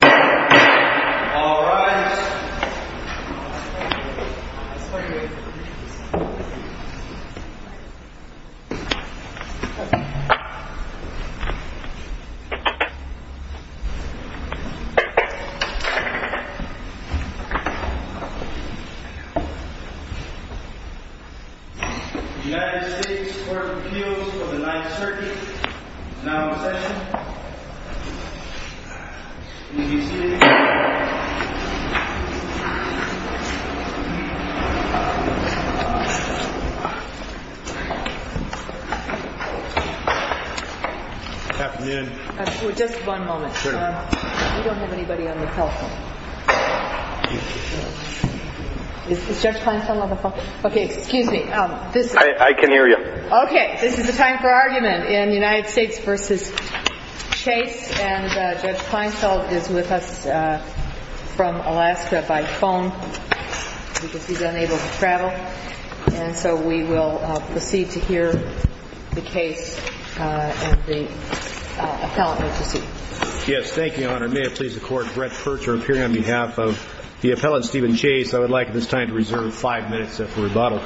All rise. United States Court of Appeals for the Ninth Circuit. Now in session. Good afternoon. Just one moment. We don't have anybody on the telephone. Is Judge Kleinstein on the phone? Okay, excuse me. I can hear you. Okay, this is a time for argument in United States v. Chase. And Judge Kleinstein is with us from Alaska by phone because he's unable to travel. And so we will proceed to hear the case and the appellant may proceed. Yes, thank you, Your Honor. May it please the Court. Brett Purcher appearing on behalf of the appellant, Stephen Chase. I would like at this time to reserve five minutes after rebuttal.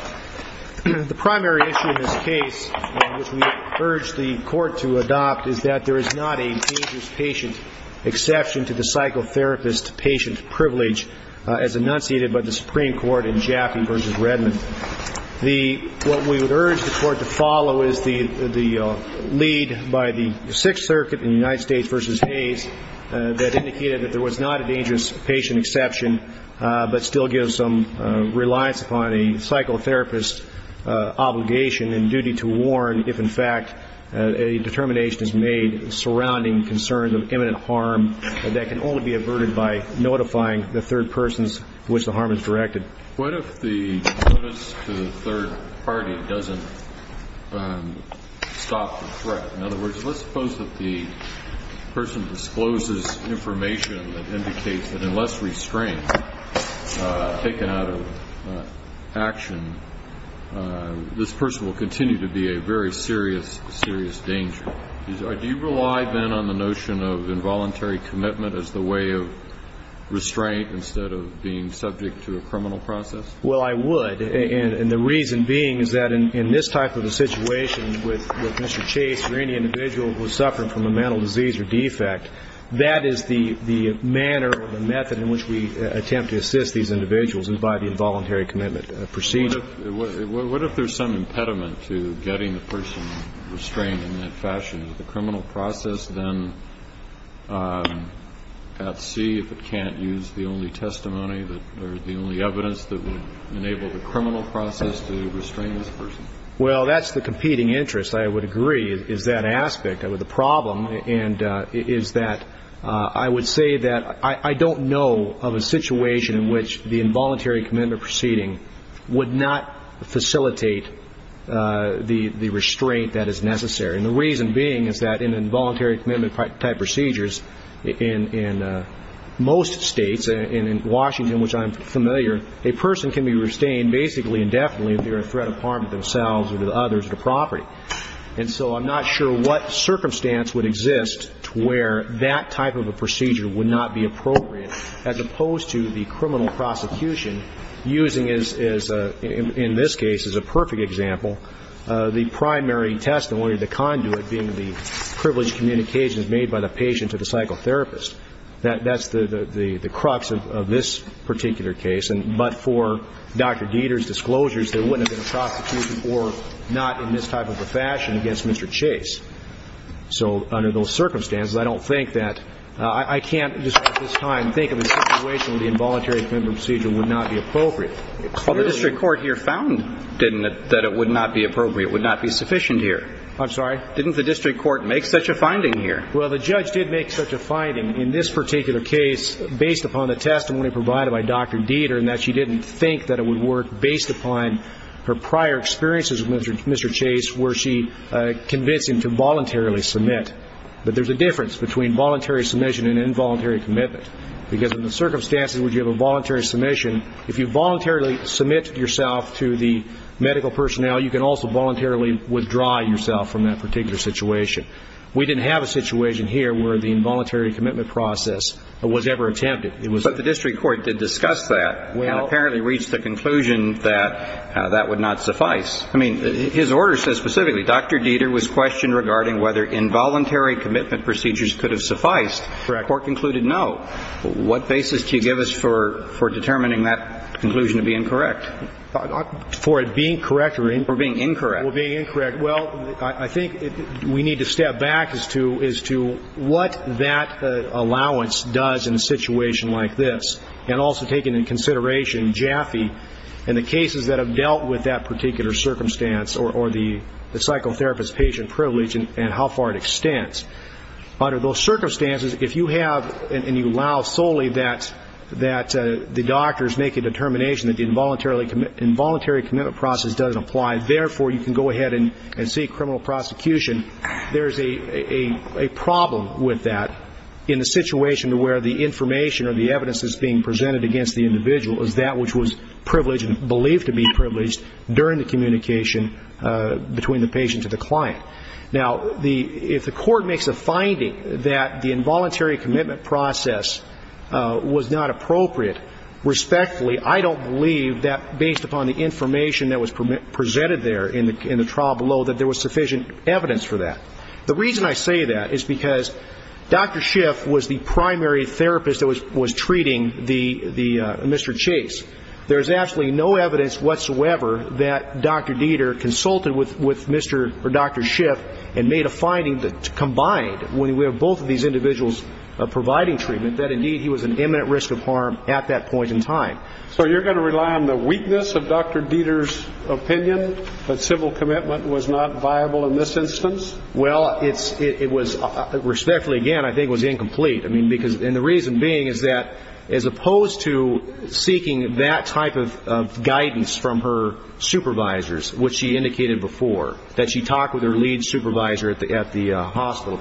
The primary issue in this case, which we urge the Court to adopt, is that there is not a dangerous patient exception to the psychotherapist patient privilege as enunciated by the Supreme Court in Jaffee v. Redmond. What we would urge the Court to follow is the lead by the Sixth Circuit in United States v. Hayes that indicated that there was not a dangerous patient exception but still gives some reliance upon a psychotherapist obligation and duty to warn if in fact a determination is made surrounding concerns of imminent harm that can only be averted by notifying the third persons to which the harm is directed. What if the notice to the third party doesn't stop the threat? In other words, let's suppose that the person discloses information that indicates that unless restrained, taken out of action, this person will continue to be a very serious, serious danger. Do you rely then on the notion of involuntary commitment as the way of restraint instead of being subject to a criminal process? Well, I would. And the reason being is that in this type of a situation with Mr. Chase or any individual who is suffering from a mental disease or defect, that is the manner or the method in which we attempt to assist these individuals and by the involuntary commitment procedure. What if there's some impediment to getting the person restrained in that fashion? Is the criminal process then at sea if it can't use the only testimony or the only evidence that would enable the criminal process to restrain this person? Well, that's the competing interest, I would agree, is that aspect of the problem. And it is that I would say that I don't know of a situation in which the involuntary commitment proceeding would not facilitate the restraint that is necessary. And the reason being is that in involuntary commitment-type procedures in most states, and in Washington, which I'm familiar, a person can be restrained basically indefinitely if they're a threat of harm to themselves or to others at a property. And so I'm not sure what circumstance would exist to where that type of a procedure would not be appropriate as opposed to the criminal prosecution using, in this case, as a perfect example, the primary testimony, the conduit being the privileged communications made by the patient to the psychotherapist. That's the crux of this particular case. But for Dr. Dieter's disclosures, there wouldn't have been a prosecution or not in this type of a fashion against Mr. Chase. So under those circumstances, I don't think that ñ I can't at this time think of a situation where the involuntary commitment procedure would not be appropriate. Well, the district court here found that it would not be appropriate, would not be sufficient here. I'm sorry? Didn't the district court make such a finding here? Well, the judge did make such a finding in this particular case based upon the testimony provided by Dr. Dieter in that she didn't think that it would work based upon her prior experiences with Mr. Chase where she convinced him to voluntarily submit. But there's a difference between voluntary submission and involuntary commitment because in the circumstances where you have a voluntary submission, if you voluntarily submit yourself to the medical personnel, you can also voluntarily withdraw yourself from that particular situation. We didn't have a situation here where the involuntary commitment process was ever attempted. But the district court did discuss that and apparently reached the conclusion that that would not suffice. I mean, his order says specifically, ìDr. Dieter was questioned regarding whether involuntary commitment procedures could have sufficed.î Correct. The court concluded no. What basis do you give us for determining that conclusion to be incorrect? For it being correct or being incorrect? For it being incorrect. Well, I think we need to step back as to what that allowance does in a situation like this and also taking into consideration Jaffe and the cases that have dealt with that particular circumstance or the psychotherapist-patient privilege and how far it extends. Under those circumstances, if you have and you allow solely that the doctors make a determination that the involuntary commitment process doesn't apply, and therefore you can go ahead and seek criminal prosecution, there's a problem with that in a situation where the information or the evidence that's being presented against the individual is that which was privileged and believed to be privileged during the communication between the patient to the client. Now, if the court makes a finding that the involuntary commitment process was not appropriate, respectfully, I don't believe that based upon the information that was presented there in the trial below that there was sufficient evidence for that. The reason I say that is because Dr. Schiff was the primary therapist that was treating Mr. Chase. There is absolutely no evidence whatsoever that Dr. Dieter consulted with Mr. or Dr. Schiff and made a finding that combined, when we have both of these individuals providing treatment, that indeed he was an imminent risk of harm at that point in time. So you're going to rely on the weakness of Dr. Dieter's opinion that civil commitment was not viable in this instance? Well, it was, respectfully, again, I think it was incomplete. And the reason being is that as opposed to seeking that type of guidance from her supervisors, which she indicated before, that she talked with her lead supervisor at the hospital,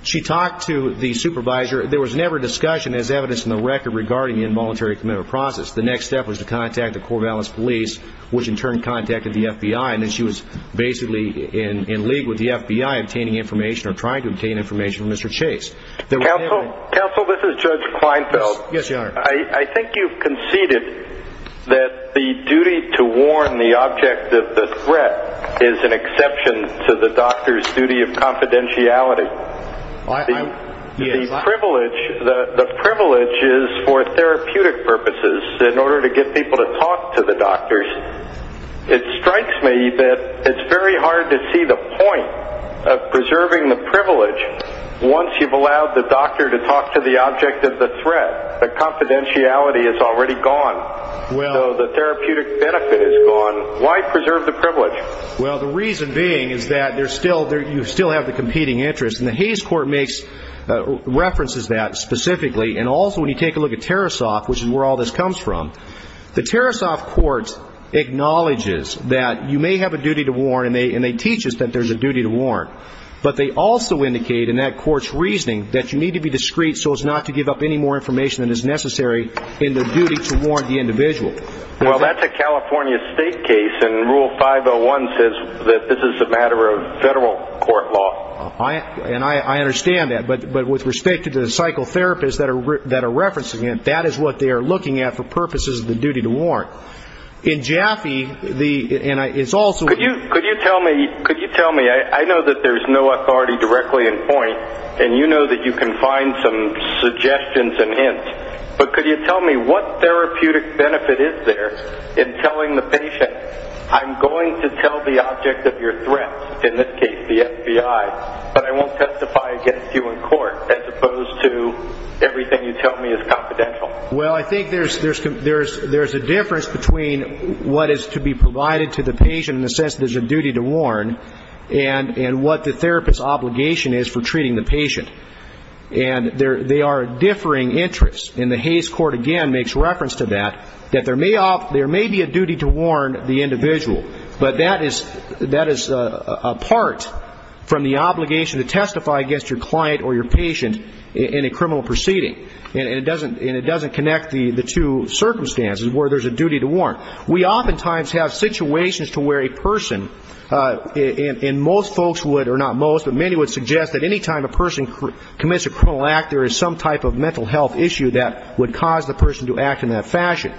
she talked to the supervisor. There was never discussion as evidence in the record regarding the involuntary commitment process. The next step was to contact the Corvallis Police, which in turn contacted the FBI, and then she was basically in league with the FBI obtaining information or trying to obtain information from Mr. Chase. Counsel, this is Judge Kleinfeld. Yes, Your Honor. I think you've conceded that the duty to warn the object of the threat is an exception to the doctor's duty of confidentiality. The privilege is for therapeutic purposes. In order to get people to talk to the doctors, it strikes me that it's very hard to see the point of preserving the privilege once you've allowed the doctor to talk to the object of the threat. The confidentiality is already gone. So the therapeutic benefit is gone. Why preserve the privilege? Well, the reason being is that you still have the competing interests, and the Hays Court references that specifically, and also when you take a look at Tarasoff, which is where all this comes from, the Tarasoff court acknowledges that you may have a duty to warn, and they teach us that there's a duty to warn. But they also indicate in that court's reasoning that you need to be discreet so as not to give up any more information than is necessary in the duty to warn the individual. Well, that's a California state case, and Rule 501 says that this is a matter of federal court law. And I understand that. But with respect to the psychotherapists that are referencing it, that is what they are looking at for purposes of the duty to warn. In Jaffe, and it's also... Could you tell me, I know that there's no authority directly in point, and you know that you can find some suggestions and hints, but could you tell me what therapeutic benefit is there in telling the patient, I'm going to tell the object of your threat, in this case the FBI, but I won't testify against you in court, as opposed to everything you tell me is confidential. Well, I think there's a difference between what is to be provided to the patient in the sense that there's a duty to warn, and what the therapist's obligation is for treating the patient. And they are differing interests. And the Hays Court, again, makes reference to that, that there may be a duty to warn the individual, but that is apart from the obligation to testify against your client or your patient in a criminal proceeding. And it doesn't connect the two circumstances where there's a duty to warn. We oftentimes have situations to where a person, and most folks would, or not most, but many would suggest that any time a person commits a criminal act, there is some type of mental health issue that would cause the person to act in that fashion.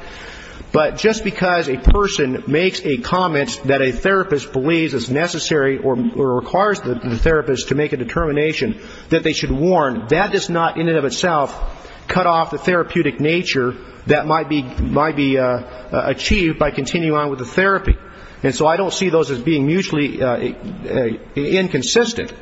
But just because a person makes a comment that a therapist believes is necessary or requires the therapist to make a determination that they should warn, that does not in and of itself cut off the therapeutic nature that might be achieved by continuing on with the therapy. And so I don't see those as being mutually inconsistent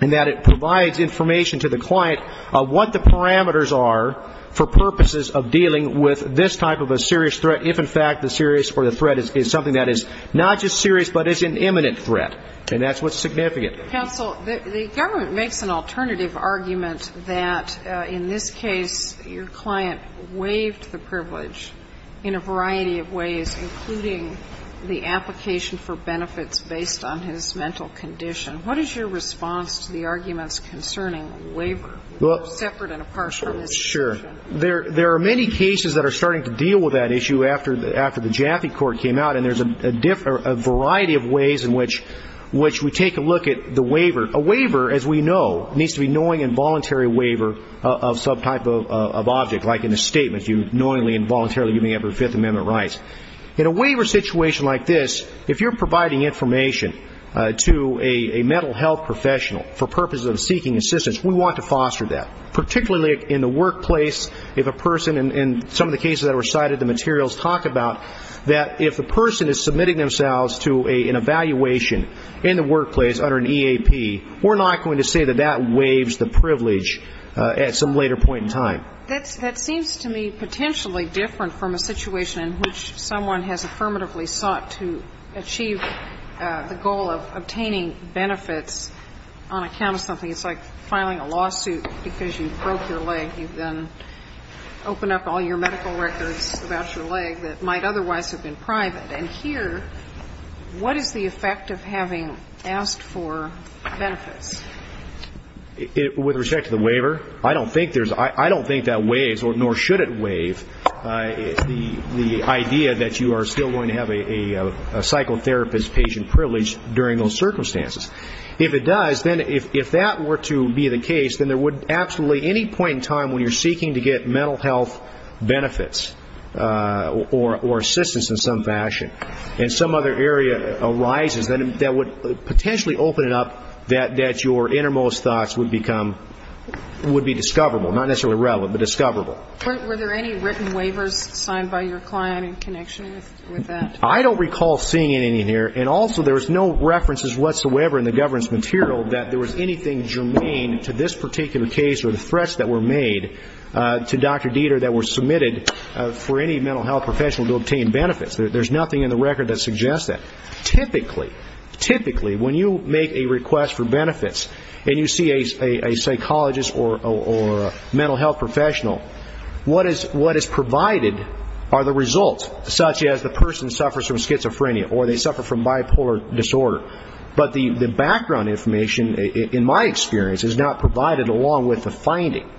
in that it provides information to the client of what the parameters are for purposes of dealing with this type of a serious threat, if in fact the serious or the threat is something that is not just serious but is an imminent threat. And that's what's significant. Counsel, the government makes an alternative argument that in this case, your client waived the privilege in a variety of ways, including the application for benefits based on his mental condition. What is your response to the arguments concerning waiver, separate and impartial? Sure. There are many cases that are starting to deal with that issue after the Jaffe Court came out, and there's a variety of ways in which we take a look at the waiver. A waiver, as we know, needs to be a knowing and voluntary waiver of some type of object, like in a statement, knowingly and voluntarily giving up your Fifth Amendment rights. In a waiver situation like this, if you're providing information to a mental health professional for purposes of seeking assistance, we want to foster that. Particularly in the workplace, if a person, in some of the cases that were cited, the materials talk about that if the person is submitting themselves to an evaluation in the workplace under an EAP, we're not going to say that that waives the privilege at some later point in time. That seems to me potentially different from a situation in which someone has affirmatively sought to achieve the goal of obtaining benefits on account of something. It's like filing a lawsuit because you broke your leg. You then open up all your medical records about your leg that might otherwise have been private. And here, what is the effect of having asked for benefits? With respect to the waiver, I don't think that waives, nor should it waive, the idea that you are still going to have a psychotherapist patient privilege during those circumstances. If it does, then if that were to be the case, then there would absolutely any point in time when you're seeking to get mental health benefits or assistance in some fashion, and some other area arises, that would potentially open it up that your innermost thoughts would become, would be discoverable. Not necessarily relevant, but discoverable. Were there any written waivers signed by your client in connection with that? I don't recall seeing any here. And also, there was no references whatsoever in the governance material that there was anything germane to this to Dr. Dieter that was submitted for any mental health professional to obtain benefits. There's nothing in the record that suggests that. Typically, typically, when you make a request for benefits and you see a psychologist or a mental health professional, what is provided are the results, such as the person suffers from schizophrenia or they suffer from bipolar disorder. But the background information, in my experience, is not provided along with the finding.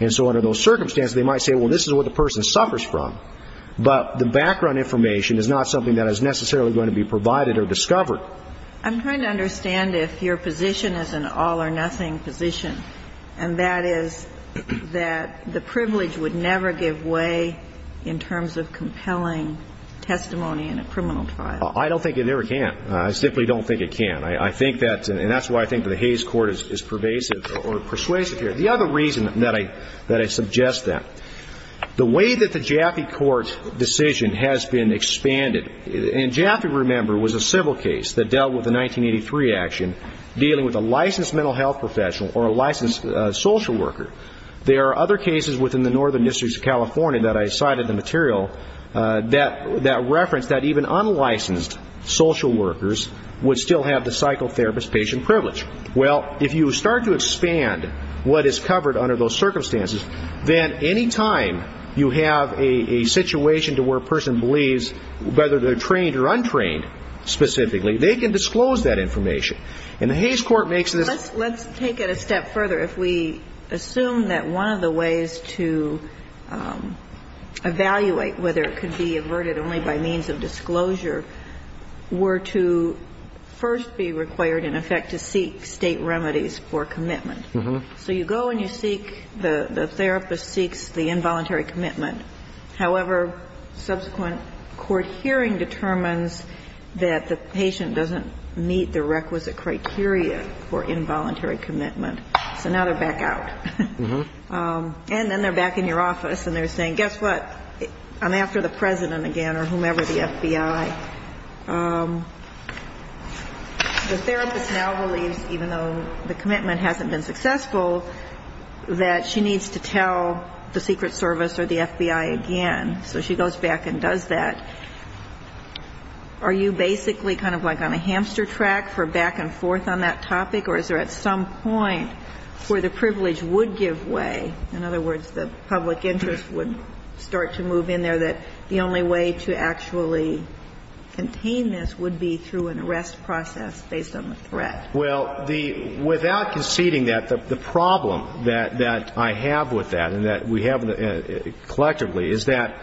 And so under those circumstances, they might say, well, this is what the person suffers from. But the background information is not something that is necessarily going to be provided or discovered. I'm trying to understand if your position is an all-or-nothing position, and that is that the privilege would never give way in terms of compelling testimony in a criminal trial. I don't think it ever can. I simply don't think it can. I think that's, and that's why I think the Hayes Court is pervasive or persuasive here. The other reason that I suggest that, the way that the Jaffe Court's decision has been expanded, and Jaffe, remember, was a civil case that dealt with a 1983 action dealing with a licensed mental health professional or a licensed social worker. There are other cases within the Northern Districts of California that I cited in the material that reference that even unlicensed social workers would still have the psychotherapist patient privilege. Well, if you start to expand what is covered under those circumstances, then any time you have a situation to where a person believes, whether they're trained or untrained specifically, they can disclose that information. And the Hayes Court makes this. Let's take it a step further. If we assume that one of the ways to evaluate whether it could be averted only by means of disclosure were to first be required, in effect, to seek State remedies for commitment. So you go and you seek, the therapist seeks the involuntary commitment. However, subsequent court hearing determines that the patient doesn't meet the requisite criteria for involuntary commitment. So now they're back out. And then they're back in your office and they're saying, guess what, I'm after the President again or whomever, the FBI. The therapist now believes, even though the commitment hasn't been successful, that she needs to tell the Secret Service or the FBI again. So she goes back and does that. Are you basically kind of like on a hamster track for back and forth on that topic, or is there at some point where the privilege would give way, in other words the public interest would start to move in there, so that the only way to actually contain this would be through an arrest process based on the threat? Well, without conceding that, the problem that I have with that and that we have collectively is that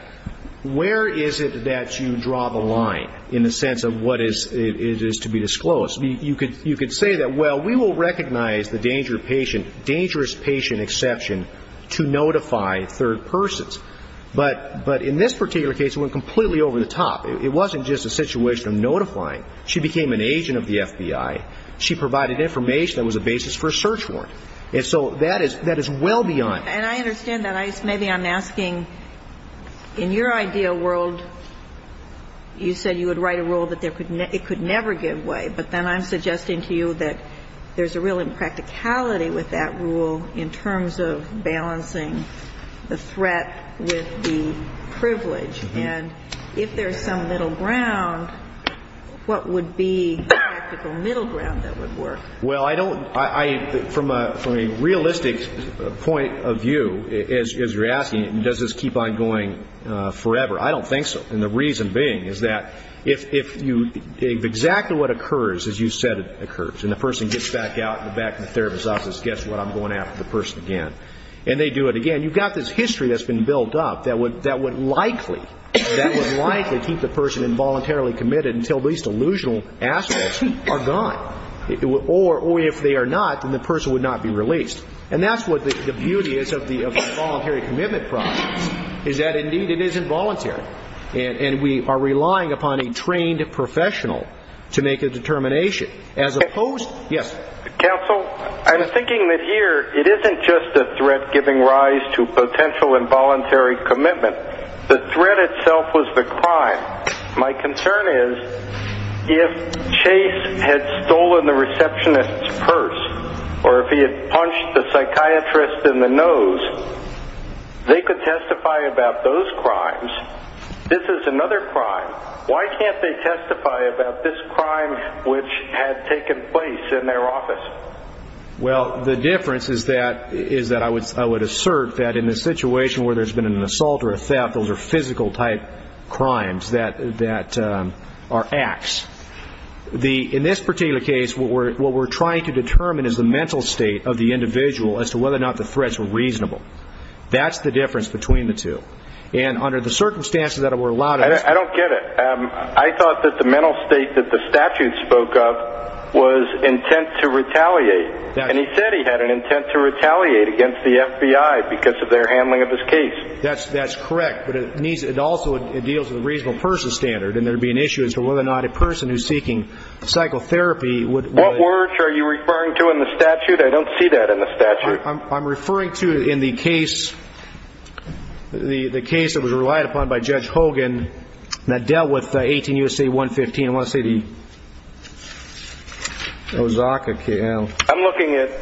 where is it that you draw the line in the sense of what is to be disclosed? You could say that, well, we will recognize the dangerous patient exception to notify third persons. But in this particular case, it went completely over the top. It wasn't just a situation of notifying. She became an agent of the FBI. She provided information that was a basis for a search warrant. And so that is well beyond. And I understand that. Maybe I'm asking, in your ideal world, you said you would write a rule that it could never give way. But then I'm suggesting to you that there's a real impracticality with that rule in terms of balancing the threat with the privilege. And if there's some middle ground, what would be the practical middle ground that would work? Well, I don't – from a realistic point of view, as you're asking, does this keep on going forever? I don't think so. And the reason being is that if exactly what occurs, as you said, occurs, and the person gets back out in the back of the therapist's office, guess what? I'm going after the person again. And they do it again. You've got this history that's been built up that would likely keep the person involuntarily committed until these delusional aspects are gone. Or if they are not, then the person would not be released. And that's what the beauty is of the involuntary commitment process, is that, indeed, it is involuntary. And we are relying upon a trained professional to make a determination. Counsel, I'm thinking that here it isn't just a threat giving rise to potential involuntary commitment. The threat itself was the crime. My concern is if Chase had stolen the receptionist's purse or if he had punched the psychiatrist in the nose, they could testify about those crimes. This is another crime. Why can't they testify about this crime which had taken place in their office? Well, the difference is that I would assert that in a situation where there's been an assault or a theft, those are physical-type crimes that are acts. In this particular case, what we're trying to determine is the mental state of the individual as to whether or not the threats were reasonable. That's the difference between the two. I don't get it. I thought that the mental state that the statute spoke of was intent to retaliate. And he said he had an intent to retaliate against the FBI because of their handling of his case. That's correct. But it also deals with a reasonable-person standard, and there would be an issue as to whether or not a person who's seeking psychotherapy would- What words are you referring to in the statute? I don't see that in the statute. I'm referring to, in the case that was relied upon by Judge Hogan that dealt with 18 U.S.A. 115, I want to say the Osaka case. I'm looking at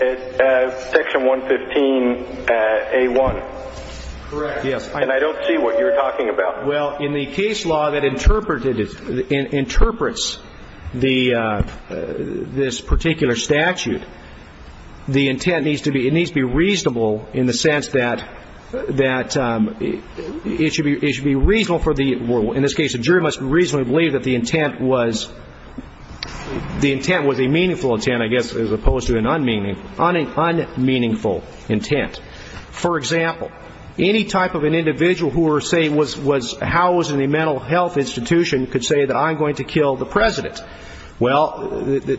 Section 115A1. Correct. And I don't see what you're talking about. Well, in the case law that interprets this particular statute, the intent needs to be reasonable in the sense that it should be reasonable for the- in this case, the jury must reasonably believe that the intent was a meaningful intent, I guess, as opposed to an unmeaningful intent. For example, any type of an individual who, say, was housed in a mental health institution could say that I'm going to kill the president. Well,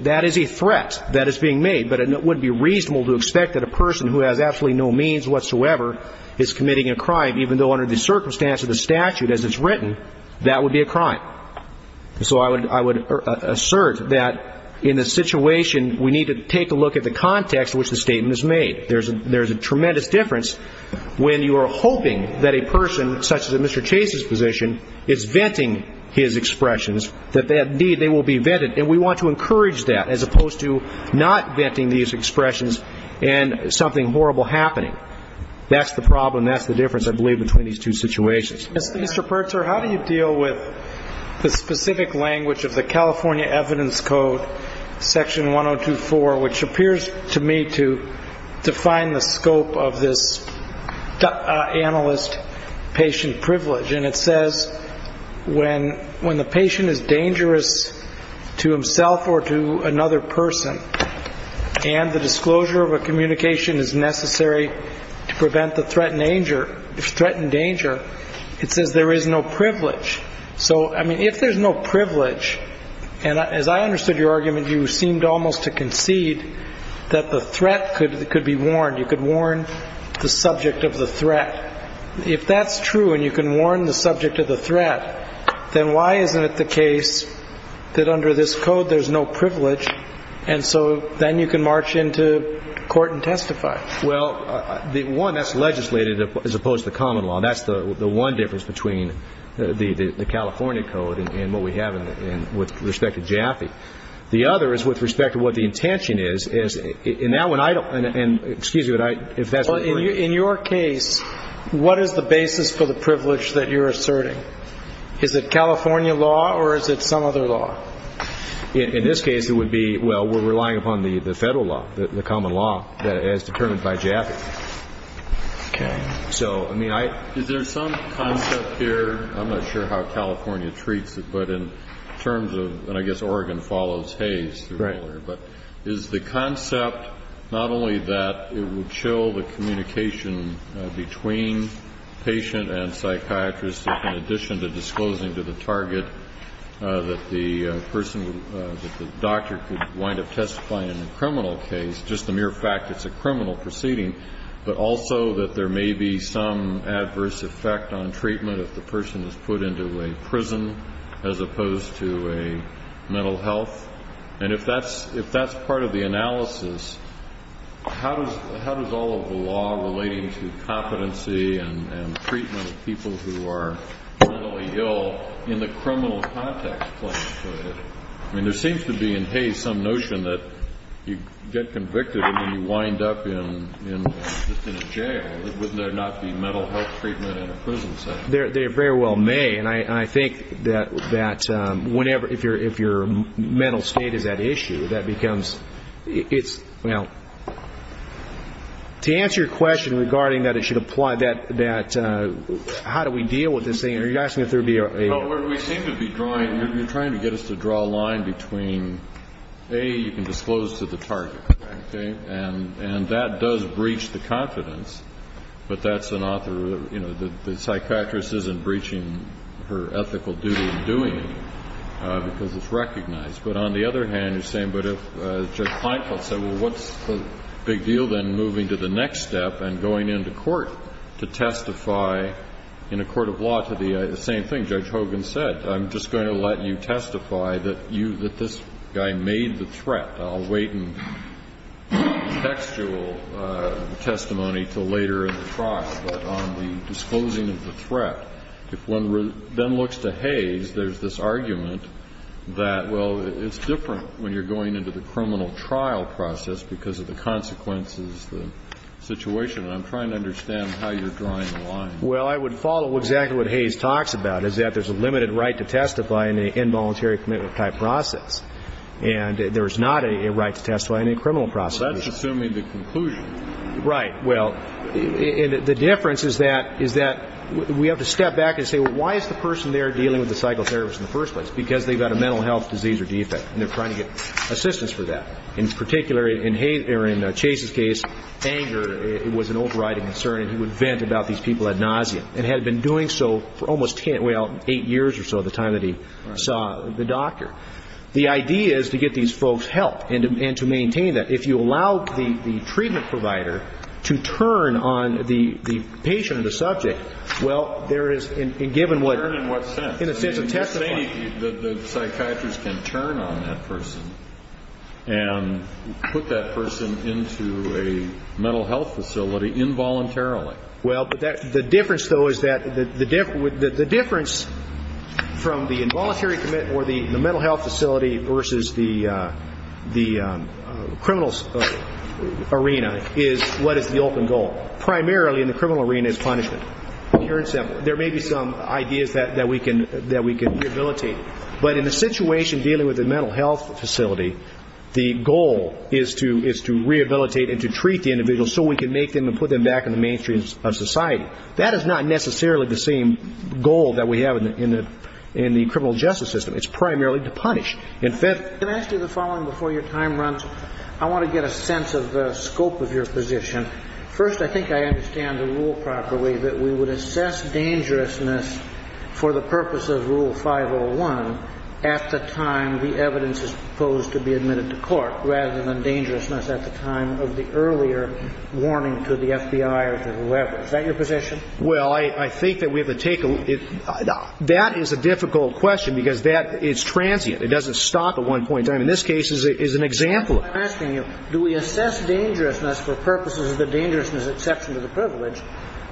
that is a threat that is being made, but it would be reasonable to expect that a person who has absolutely no means whatsoever is committing a crime, even though under the circumstance of the statute as it's written, that would be a crime. So I would assert that in this situation, we need to take a look at the context in which the statement is made. There's a tremendous difference when you are hoping that a person, such as in Mr. Chase's position, is venting his expressions, that, indeed, they will be vetted, and we want to encourage that as opposed to not venting these expressions and something horrible happening. That's the problem. That's the difference, I believe, between these two situations. Mr. Pertzer, how do you deal with the specific language of the California Evidence Code, Section 1024, which appears to me to define the scope of this analyst-patient privilege? And it says when the patient is dangerous to himself or to another person and the disclosure of a communication is necessary to prevent the threatened danger, it says there is no privilege. So, I mean, if there's no privilege, and as I understood your argument, you seemed almost to concede that the threat could be warned. You could warn the subject of the threat. But if that's true and you can warn the subject of the threat, then why isn't it the case that under this code there's no privilege and so then you can march into court and testify? Well, one, that's legislative as opposed to common law, and that's the one difference between the California Code and what we have with respect to Jaffe. The other is with respect to what the intention is. In your case, what is the basis for the privilege that you're asserting? Is it California law or is it some other law? In this case, it would be, well, we're relying upon the federal law, the common law, as determined by Jaffe. Okay. So, I mean, I — Is there some concept here, I'm not sure how California treats it, Right. But is the concept not only that it would show the communication between patient and psychiatrist in addition to disclosing to the target that the person, that the doctor could wind up testifying in a criminal case, just the mere fact it's a criminal proceeding, but also that there may be some adverse effect on treatment if the person is put into a prison as opposed to a mental health? And if that's part of the analysis, how does all of the law relating to competency and treatment of people who are mentally ill in the criminal context play into it? I mean, there seems to be in Hays some notion that you get convicted and then you wind up just in a jail. Wouldn't there not be mental health treatment in a prison setting? They very well may. And I think that whenever — if your mental state is at issue, that becomes — it's — well, to answer your question regarding that it should apply, that — how do we deal with this thing? Are you asking if there would be a — Well, what we seem to be drawing — you're trying to get us to draw a line between, A, you can disclose to the target. Okay. And that does breach the confidence. But that's an author — you know, the psychiatrist isn't breaching her ethical duty in doing it because it's recognized. But on the other hand, you're saying, but if Judge Kleinfeld said, well, what's the big deal then moving to the next step and going into court to testify in a court of law to the same thing Judge Hogan said? I'm just going to let you testify that you — that this guy made the threat. I'll wait in textual testimony until later in the trial, but on the disclosing of the threat, if one then looks to Hayes, there's this argument that, well, it's different when you're going into the criminal trial process because of the consequences, the situation. And I'm trying to understand how you're drawing the line. Well, I would follow exactly what Hayes talks about, is that there's a limited right to testify in an involuntary commitment-type process. And there is not a right to testify in a criminal process. Well, that's assuming the conclusion. Right. Well, the difference is that we have to step back and say, well, why is the person there dealing with the psychotherapist in the first place? Because they've got a mental health disease or defect, and they're trying to get assistance for that. In particular, in Chase's case, anger was an overriding concern, and he would vent about these people had nausea and had been doing so for almost, well, eight years or so at the time that he saw the doctor. The idea is to get these folks help and to maintain that. If you allow the treatment provider to turn on the patient or the subject, well, there is, and given what ‑‑ Turn in what sense? In a sense of testifying. You're saying that the psychiatrist can turn on that person and put that person into a mental health facility involuntarily. Well, the difference, though, is that the difference from the involuntary commitment where the mental health facility versus the criminal arena is what is the open goal. Primarily in the criminal arena is punishment. There may be some ideas that we can rehabilitate. But in the situation dealing with the mental health facility, the goal is to rehabilitate and to treat the individual so we can make them and put them back in the mainstream of society. That is not necessarily the same goal that we have in the criminal justice system. It's primarily to punish. In fact ‑‑ Can I ask you the following before your time runs? I want to get a sense of the scope of your position. First, I think I understand the rule properly that we would assess dangerousness for the purpose of Rule 501 at the time the evidence is proposed to be admitted to court rather than dangerousness at the time of the earlier warning to the FBI or to whoever. Is that your position? Well, I think that we have to take a ‑‑ that is a difficult question because that is transient. It doesn't stop at one point in time. In this case, it's an example of it. I'm asking you, do we assess dangerousness for purposes of the dangerousness exception to the privilege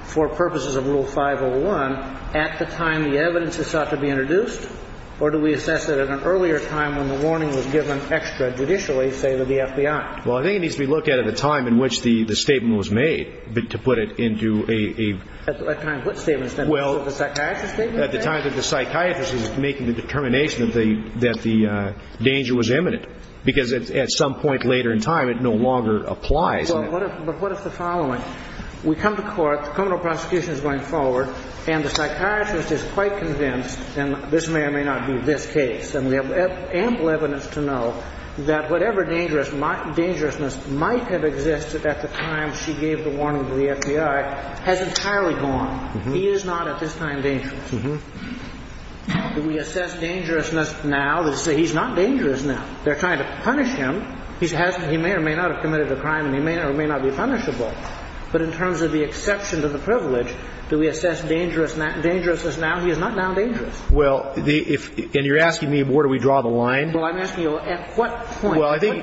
for purposes of Rule 501 at the time the evidence is thought to be introduced, or do we assess it at an earlier time when the warning was given extra judicially, say, to the FBI? Well, I think it needs to be looked at at the time in which the statement was made to put it into a ‑‑ At the time of which statement? Well, at the time that the psychiatrist was making the determination that the danger was imminent because at some point later in time it no longer applies. But what is the following? We come to court, the criminal prosecution is going forward, and the psychiatrist is quite convinced, and this may or may not be this case, and we have ample evidence to know that whatever dangerousness might have existed at the time she gave the warning to the FBI has entirely gone. He is not at this time dangerous. Do we assess dangerousness now to say he's not dangerous now? They're trying to punish him. He may or may not have committed a crime and he may or may not be punishable. But in terms of the exception to the privilege, do we assess dangerousness now? He is not now dangerous. Well, and you're asking me where do we draw the line? Well, I'm asking you at what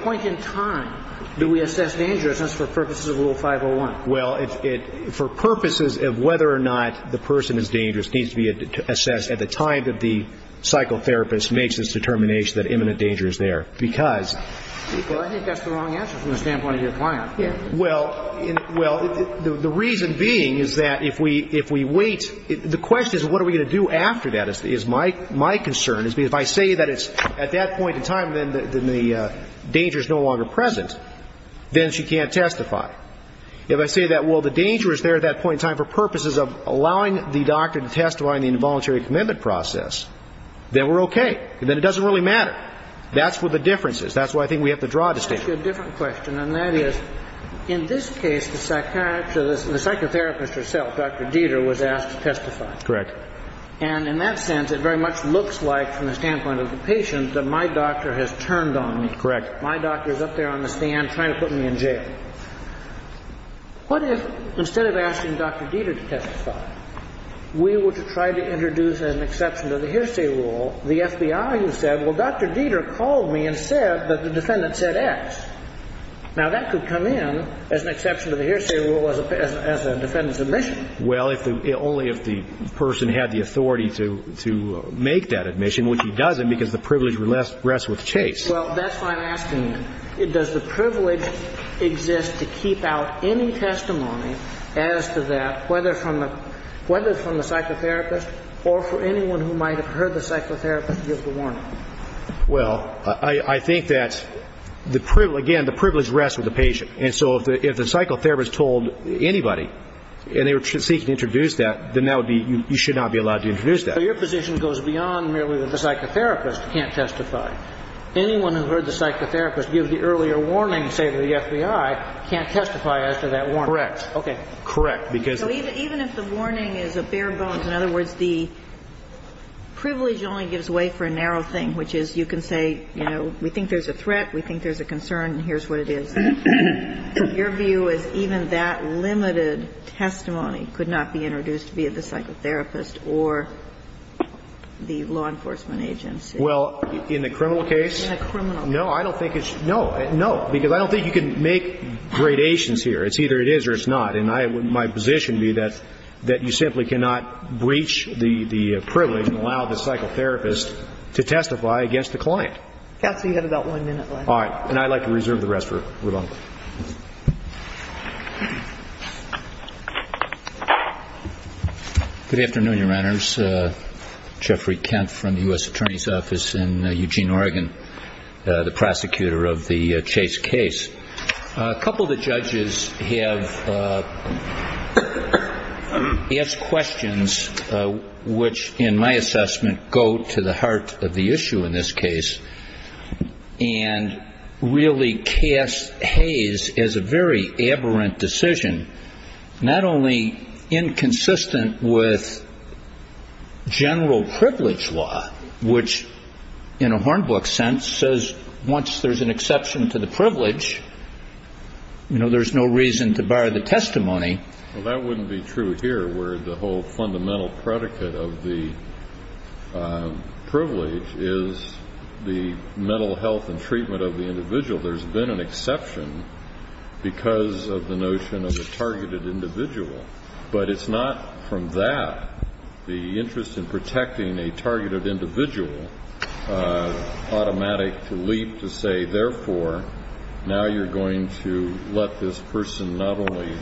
point in time do we assess dangerousness for purposes of Rule 501? Well, for purposes of whether or not the person is dangerous needs to be assessed at the time that the psychotherapist makes this determination that imminent danger is there because ‑‑ Well, I think that's the wrong answer from the standpoint of your client. Well, the reason being is that if we wait, the question is what are we going to do after that? My concern is if I say that it's at that point in time then the danger is no longer present, then she can't testify. If I say that, well, the danger is there at that point in time for purposes of allowing the doctor to testify in the involuntary commitment process, then we're okay. Then it doesn't really matter. That's where the difference is. That's why I think we have to draw a distinction. I'll ask you a different question, and that is in this case the psychiatrist, the psychotherapist herself, Dr. Dieter, was asked to testify. Correct. And in that sense it very much looks like from the standpoint of the patient that my doctor has turned on me. Correct. My doctor is up there on the stand trying to put me in jail. What if instead of asking Dr. Dieter to testify, we were to try to introduce an exception to the hearsay rule, the FBI who said, well, Dr. Dieter called me and said that the defendant said X. Now, that could come in as an exception to the hearsay rule as a defendant's admission. Well, only if the person had the authority to make that admission, which he doesn't because the privilege rests with Chase. Well, that's why I'm asking you, does the privilege exist to keep out any testimony as to that, whether it's from the psychotherapist or for anyone who might have heard the psychotherapist give the warning? Well, I think that, again, the privilege rests with the patient. And so if the psychotherapist told anybody and they were seeking to introduce that, then that would be you should not be allowed to introduce that. So your position goes beyond merely that the psychotherapist can't testify. Anyone who heard the psychotherapist give the earlier warning, say, to the FBI, can't testify as to that warning. Correct. Okay. Correct. Even if the warning is a bare bones, in other words, the privilege only gives way for a narrow thing, which is you can say, you know, we think there's a threat, we think there's a concern, and here's what it is. Your view is even that limited testimony could not be introduced, be it the psychotherapist or the law enforcement agency. Well, in a criminal case? In a criminal case. No, I don't think it's no. No, because I don't think you can make gradations here. It's either it is or it's not. And my position would be that you simply cannot breach the privilege and allow the psychotherapist to testify against the client. Counsel, you have about one minute left. All right. And I'd like to reserve the rest for Ramon. Good afternoon, Your Honors. Jeffrey Kent from the U.S. Attorney's Office in Eugene, Oregon, the prosecutor of the Chase case. A couple of the judges have asked questions which, in my assessment, go to the heart of the issue in this case and really cast Hays as a very aberrant decision, not only inconsistent with general privilege law, which in a Hornbook sense says once there's an exception to the privilege, you know, there's no reason to bar the testimony. Well, that wouldn't be true here, where the whole fundamental predicate of the privilege is the mental health and treatment of the individual. There's been an exception because of the notion of a targeted individual. But it's not from that, the interest in protecting a targeted individual, automatic to leap to say, therefore, now you're going to let this person not only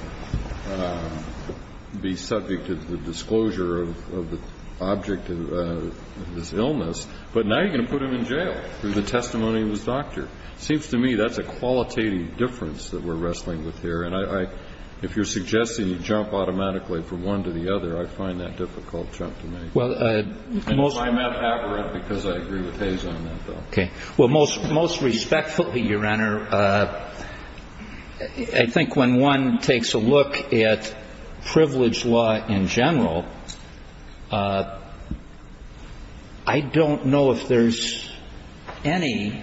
be subject to the disclosure of the object of this illness, but now you're going to put him in jail for the testimony of his doctor. It seems to me that's a qualitative difference that we're wrestling with here. And if you're suggesting you jump automatically from one to the other, I find that difficult to make. I'm not aberrant because I agree with Hays on that, though. Okay. Well, most respectfully, Your Honor, I think when one takes a look at privilege law in general, I don't know if there's any,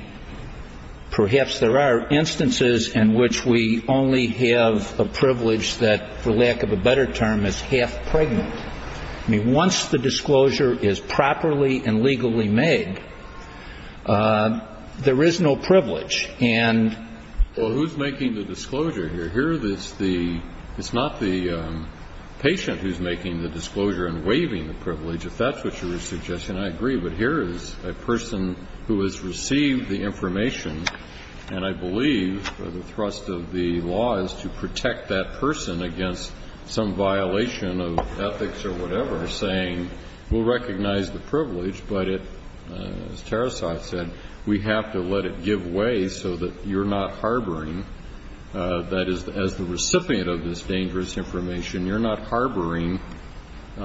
perhaps there are, instances in which we only have a privilege that, for lack of a better term, is half pregnant. I mean, once the disclosure is properly and legally made, there is no privilege. And the ---- Well, who's making the disclosure here? Here, it's not the patient who's making the disclosure and waiving the privilege, if that's what you're suggesting. I agree. But here is a person who has received the information, and I believe the thrust of the law is to protect that person against some violation of ethics or whatever, saying we'll recognize the privilege, but it, as Tarasov said, we have to let it give way so that you're not harboring, that is, as the recipient of this dangerous information, you're not harboring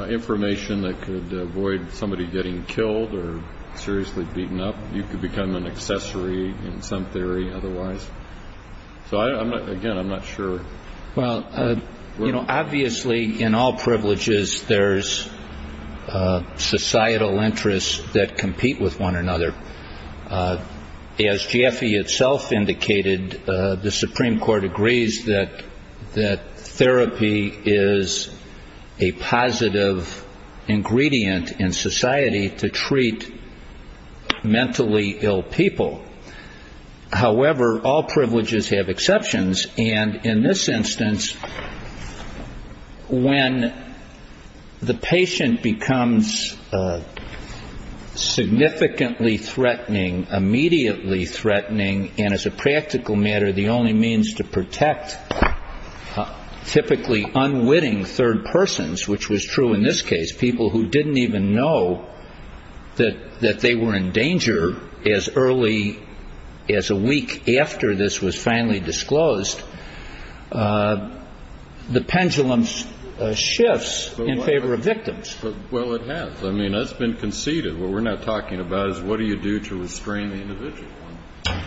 information that could avoid somebody getting killed or seriously beaten up. You could become an accessory in some theory otherwise. So, again, I'm not sure. Well, you know, obviously in all privileges there's societal interests that compete with one another. As GFE itself indicated, the Supreme Court agrees that therapy is a positive ingredient in society to treat mentally ill people. However, all privileges have exceptions. And in this instance, when the patient becomes significantly threatening, immediately threatening, and as a practical matter the only means to protect typically unwitting third persons, which was true in this case, people who didn't even know that they were in danger as early as a week after this was finally disclosed, the pendulum shifts in favor of victims. Well, it has. I mean, that's been conceded. What we're not talking about is what do you do to restrain the individual.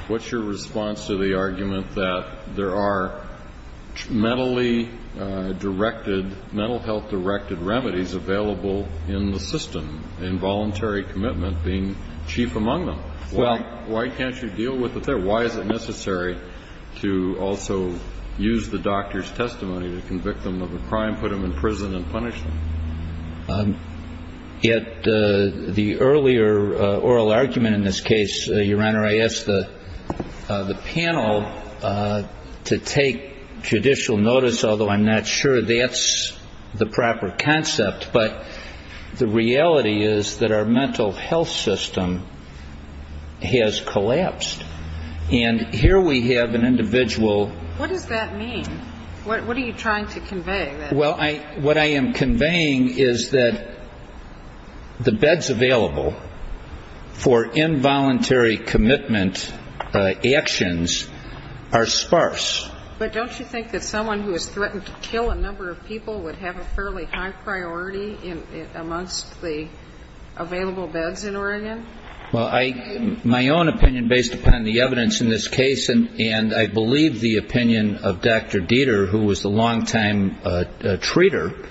What's your response to the argument that there are mentally directed, mental health directed remedies available in the system, involuntary commitment being chief among them? Why can't you deal with it there? Why is it necessary to also use the doctor's testimony to convict them of a crime, put them in prison and punish them? The earlier oral argument in this case, Your Honor, I asked the panel to take judicial notice, although I'm not sure that's the proper concept. But the reality is that our mental health system has collapsed. And here we have an individual. What does that mean? What are you trying to convey? Well, what I am conveying is that the beds available for involuntary commitment actions are sparse. But don't you think that someone who has threatened to kill a number of people would have a fairly high priority amongst the available beds in Oregon? Well, my own opinion based upon the evidence in this case, and I believe the opinion of Dr. Dieter, who was the longtime treater,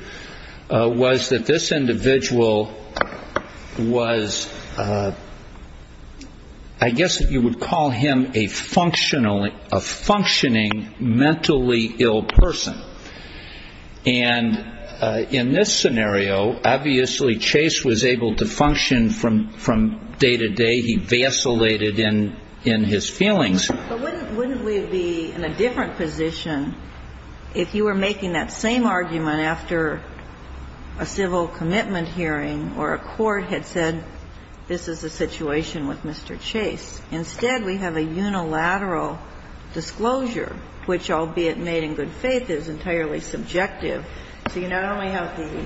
was that this individual was, I guess you would call him a functioning mentally ill person. And in this scenario, obviously Chase was able to function from day to day. He vacillated in his feelings. But wouldn't we be in a different position if you were making that same argument after a civil commitment hearing or a court had said this is a situation with Mr. Chase? Instead, we have a unilateral disclosure, which, albeit made in good faith, is entirely subjective. So you not only have the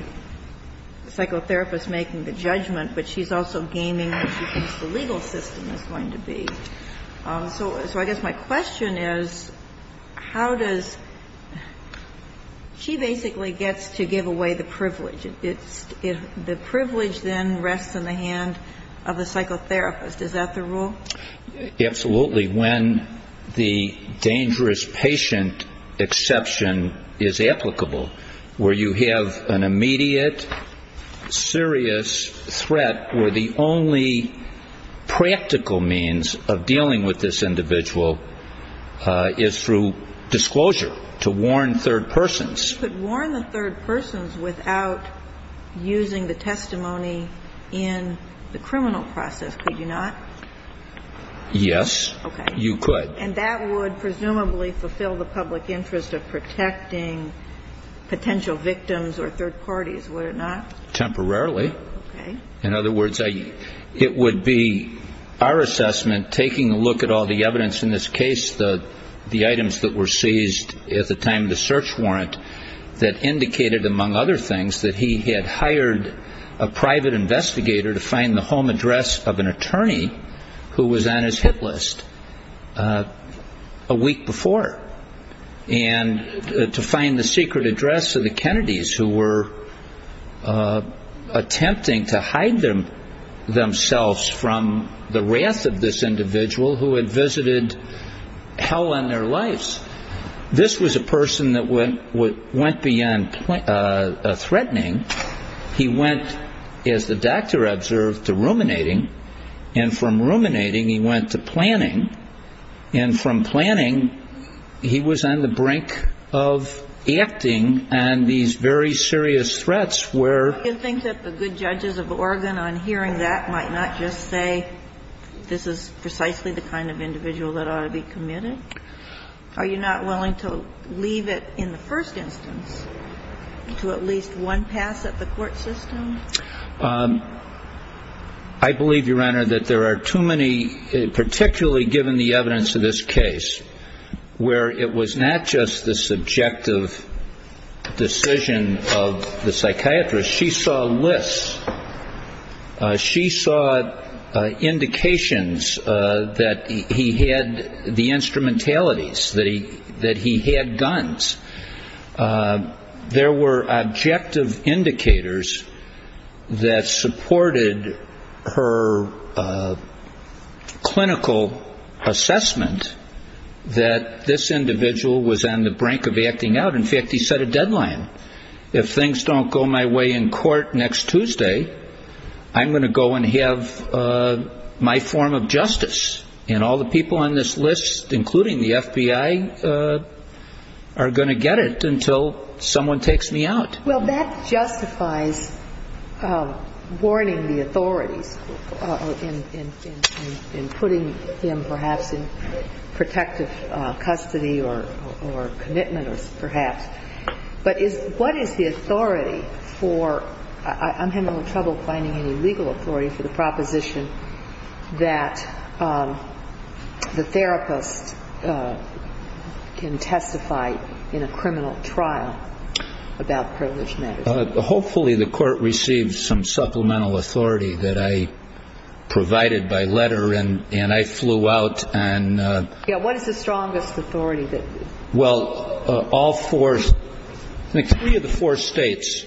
psychotherapist making the judgment, but she's also gaming what she thinks the legal system is going to be. So I guess my question is, how does she basically gets to give away the privilege? The privilege then rests in the hand of the psychotherapist. Is that the rule? Absolutely. When the dangerous patient exception is applicable, where you have an immediate, serious threat, where the only practical means of dealing with this individual is through disclosure, to warn third persons. But you could warn the third persons without using the testimony in the criminal process, could you not? Yes, you could. Okay. And that would presumably fulfill the public interest of protecting potential victims or third parties, would it not? Temporarily. Okay. In other words, it would be our assessment, taking a look at all the evidence in this case, the items that were seized at the time of the search warrant, that indicated, among other things, that he had hired a private investigator to find the home address of an attorney who was on his hit list a week before, and to find the secret address of the Kennedys who were attempting to hide themselves from the wrath of this individual who had visited hell on their lives. This was a person that went beyond threatening. He went, as the doctor observed, to ruminating. And from ruminating, he went to planning. And from planning, he was on the brink of acting on these very serious threats where ‑‑ Do you think that the good judges of Oregon, on hearing that, might not just say, this is precisely the kind of individual that ought to be committed? Are you not willing to leave it in the first instance to at least one pass at the court system? I believe, Your Honor, that there are too many, particularly given the evidence of this case, where it was not just the subjective decision of the psychiatrist. She saw lists. She saw indications that he had the instrumentalities, that he had guns. There were objective indicators that supported her clinical assessment that this individual was on the brink of acting out. In fact, he set a deadline. If things don't go my way in court next Tuesday, I'm going to go and have my form of justice, and all the people on this list, including the FBI, are going to get it until someone takes me out. Well, that justifies warning the authorities in putting him perhaps in protective custody or commitment, perhaps. But what is the authority for ‑‑ I'm having a little trouble finding any legal authority for the proposition that the therapist can testify in a criminal trial about privileged men? Hopefully, the court received some supplemental authority that I provided by letter, and I flew out and ‑‑ Yeah, what is the strongest authority that ‑‑ Well, all four ‑‑ I think three of the four states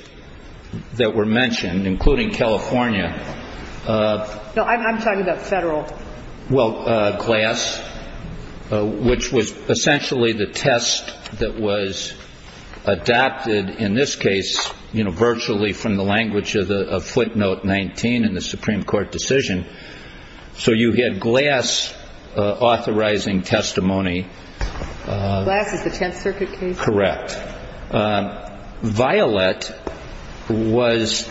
that were mentioned, including California. No, I'm talking about federal. Well, Glass, which was essentially the test that was adapted in this case, you know, virtually from the language of footnote 19 in the Supreme Court decision. So you had Glass authorizing testimony. Glass is the Tenth Circuit case? Correct. Violet was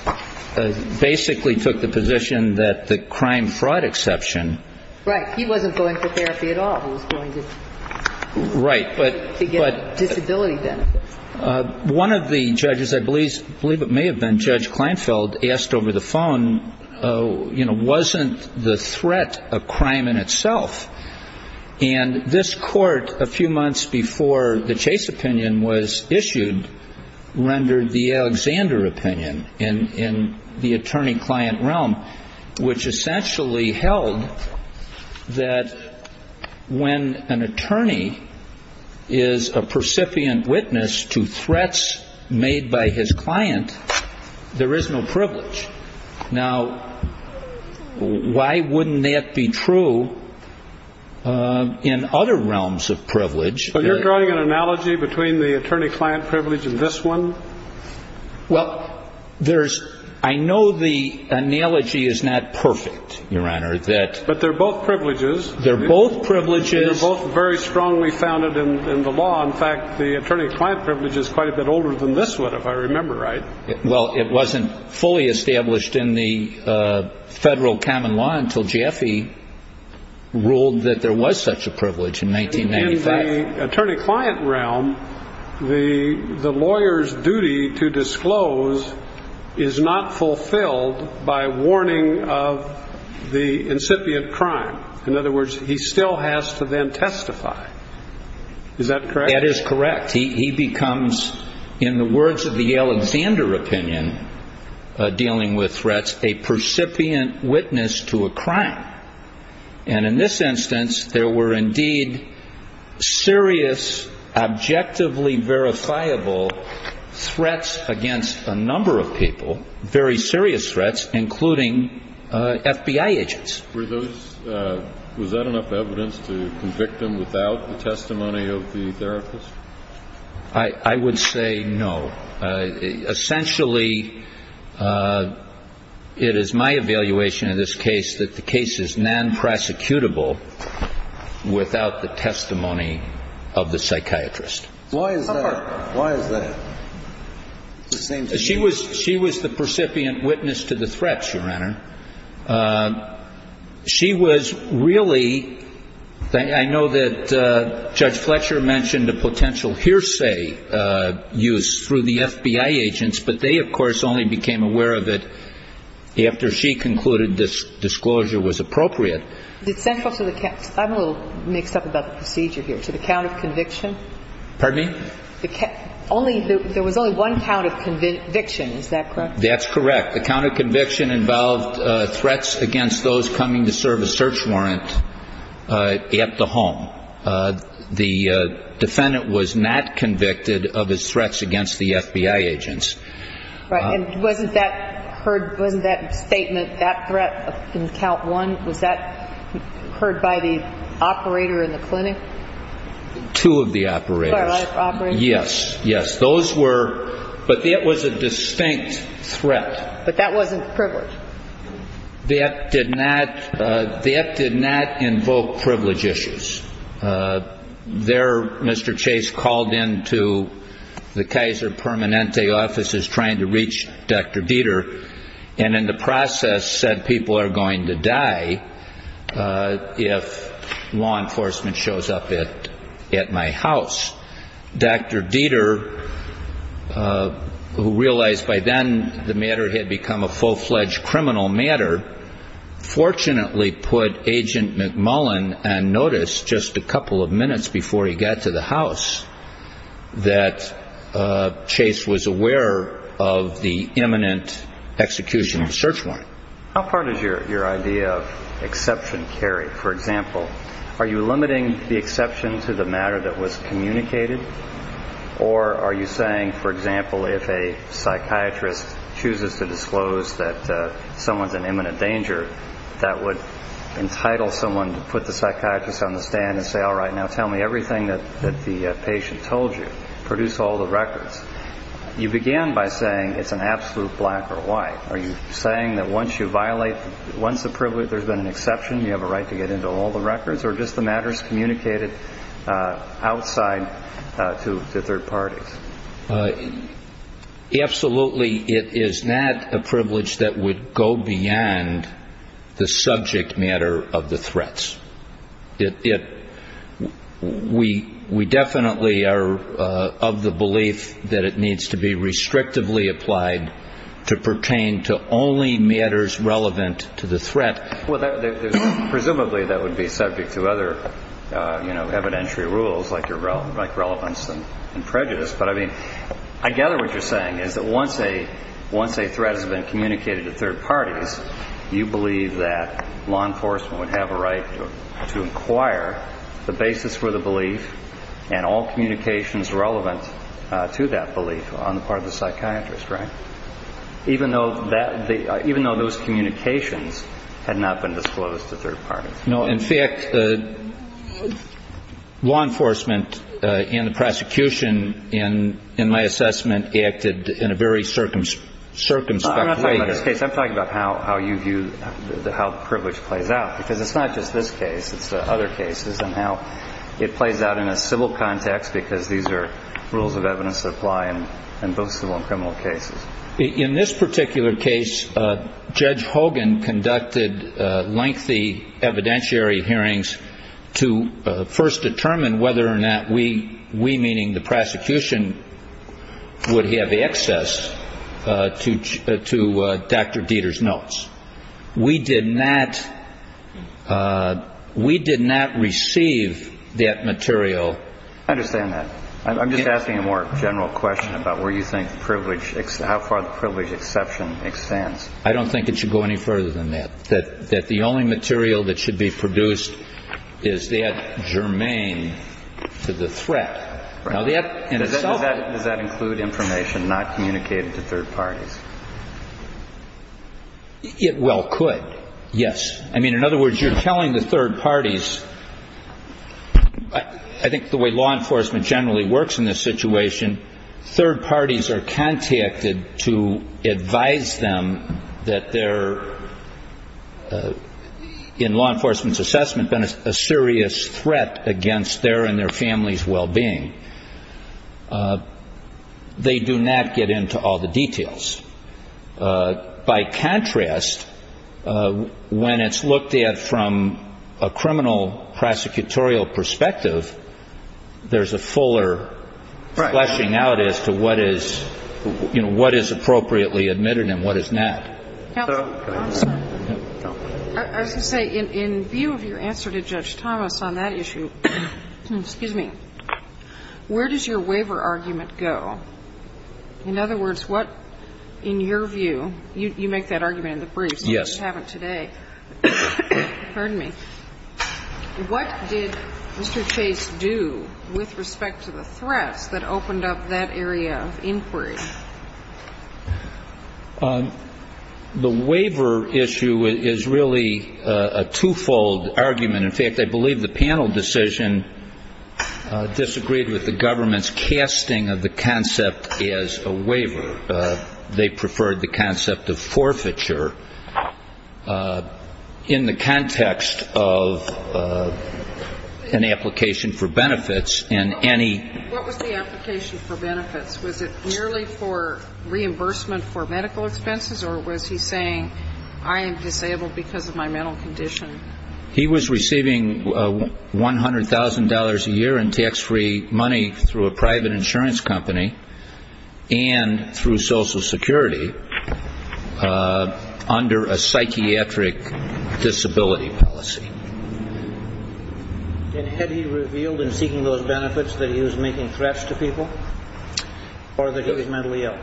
‑‑ basically took the position that the crime fraud exception ‑‑ Right. He wasn't going for therapy at all. He was going to get disability benefits. Right. But one of the judges, I believe it may have been Judge Kleinfeld, asked over the phone, you know, wasn't the threat a crime in itself? And this court, a few months before the Chase opinion was issued, rendered the Alexander opinion in the attorney‑client realm, which essentially held that when an attorney is a percipient witness to threats made by his client, there is no privilege. Now, why wouldn't that be true in other realms of privilege? Are you drawing an analogy between the attorney‑client privilege and this one? Well, there's ‑‑ I know the analogy is not perfect, Your Honor. But they're both privileges. They're both privileges. And they're both very strongly founded in the law. In fact, the attorney‑client privilege is quite a bit older than this one, if I remember right. Well, it wasn't fully established in the federal common law until Jaffe ruled that there was such a privilege in 1995. In the attorney‑client realm, the lawyer's duty to disclose is not fulfilled by warning of the incipient crime. In other words, he still has to then testify. Is that correct? That is correct. He becomes, in the words of the Alexander opinion dealing with threats, a percipient witness to a crime. And in this instance, there were indeed serious, objectively verifiable threats against a number of people, very serious threats, including FBI agents. Were those ‑‑ was that enough evidence to convict him without the testimony of the therapist? I would say no. Essentially, it is my evaluation in this case that the case is nonprosecutable without the testimony of the psychiatrist. Why is that? She was the percipient witness to the threats, Your Honor. She was really ‑‑ I know that Judge Fletcher mentioned a potential hearsay use through the FBI agents, but they, of course, only became aware of it after she concluded this disclosure was appropriate. I'm a little mixed up about the procedure here. To the count of conviction? Pardon me? Only ‑‑ there was only one count of conviction. Is that correct? That's correct. The count of conviction involved threats against those coming to serve a search warrant at the home. The defendant was not convicted of his threats against the FBI agents. And wasn't that heard ‑‑ wasn't that statement, that threat in count one, was that heard by the operator in the clinic? Two of the operators. Yes, yes. Those were ‑‑ but that was a distinct threat. But that wasn't privilege. That did not ‑‑ that did not invoke privilege issues. There, Mr. Chase called into the Kaiser Permanente offices trying to reach Dr. Dieter, and in the process said people are going to die if law enforcement shows up at my house. Dr. Dieter, who realized by then the matter had become a full‑fledged criminal matter, fortunately put Agent McMullen on notice just a couple of minutes before he got to the house that Chase was aware of the imminent execution of the search warrant. How far does your idea of exception carry? For example, are you limiting the exception to the matter that was communicated? Or are you saying, for example, if a psychiatrist chooses to disclose that someone's in imminent danger, that would entitle someone to put the psychiatrist on the stand and say, all right, now tell me everything that the patient told you, produce all the records. You began by saying it's an absolute black or white. Are you saying that once you violate, once the privilege, there's been an exception, you have a right to get into all the records? Or are just the matters communicated outside to third parties? Absolutely it is not a privilege that would go beyond the subject matter of the threats. We definitely are of the belief that it needs to be restrictively applied to pertain to only matters relevant to the threat. Presumably that would be subject to other evidentiary rules like relevance and prejudice. But I mean, I gather what you're saying is that once a threat has been communicated to third parties, you believe that law enforcement would have a right to inquire the basis for the belief and all communications relevant to that belief on the part of the psychiatrist, right? Even though those communications had not been disclosed to third parties. No, in fact, law enforcement and the prosecution, in my assessment, acted in a very circumspect way. I'm not talking about this case. I'm talking about how you view, how privilege plays out. Because it's not just this case, it's other cases and how it plays out in a civil context because these are rules of evidence that apply in both civil and criminal cases. In this particular case, Judge Hogan conducted lengthy evidentiary hearings to first determine whether or not we, we meaning the prosecution, would have access to Dr. Dieter's notes. We did not receive that material. I understand that. I'm just asking a more general question about where you think privilege, how far the privilege exception extends. I don't think it should go any further than that. That the only material that should be produced is that germane to the threat. Does that include information not communicated to third parties? It well could, yes. I mean, in other words, you're telling the third parties. I think the way law enforcement generally works in this situation, third parties are contacted to advise them that they're, in law enforcement's assessment, been a serious threat against their and their family's well-being. They do not get into all the details. I would say that there is a fuller discussion of what is appropriate, what is not. By contrast, when it's looked at from a criminal prosecutorial perspective, there's a fuller fleshing out as to what is, you know, what is appropriately admitted and what is not. I was going to say, in view of your answer to Judge Thomas on that issue, excuse me, where does your waiver argument go? In other words, what, in your view, you make that argument in the briefs. Yes. You just haven't today. Pardon me. What did Mr. Chase do with respect to the threats that opened up that area of inquiry? The waiver issue is really a twofold argument. In fact, I believe the panel decision disagreed with the government's casting of the concept as a waiver. They preferred the concept of forfeiture in the context of an application for benefits and any ---- What was the application for benefits? Was it merely for reimbursement for medical expenses, or was he saying I am disabled because of my mental condition? He was receiving $100,000 a year in tax-free money through a private insurance company and through Social Security under a psychiatric disability policy. And had he revealed in seeking those benefits that he was making threats to people or that he was mentally ill?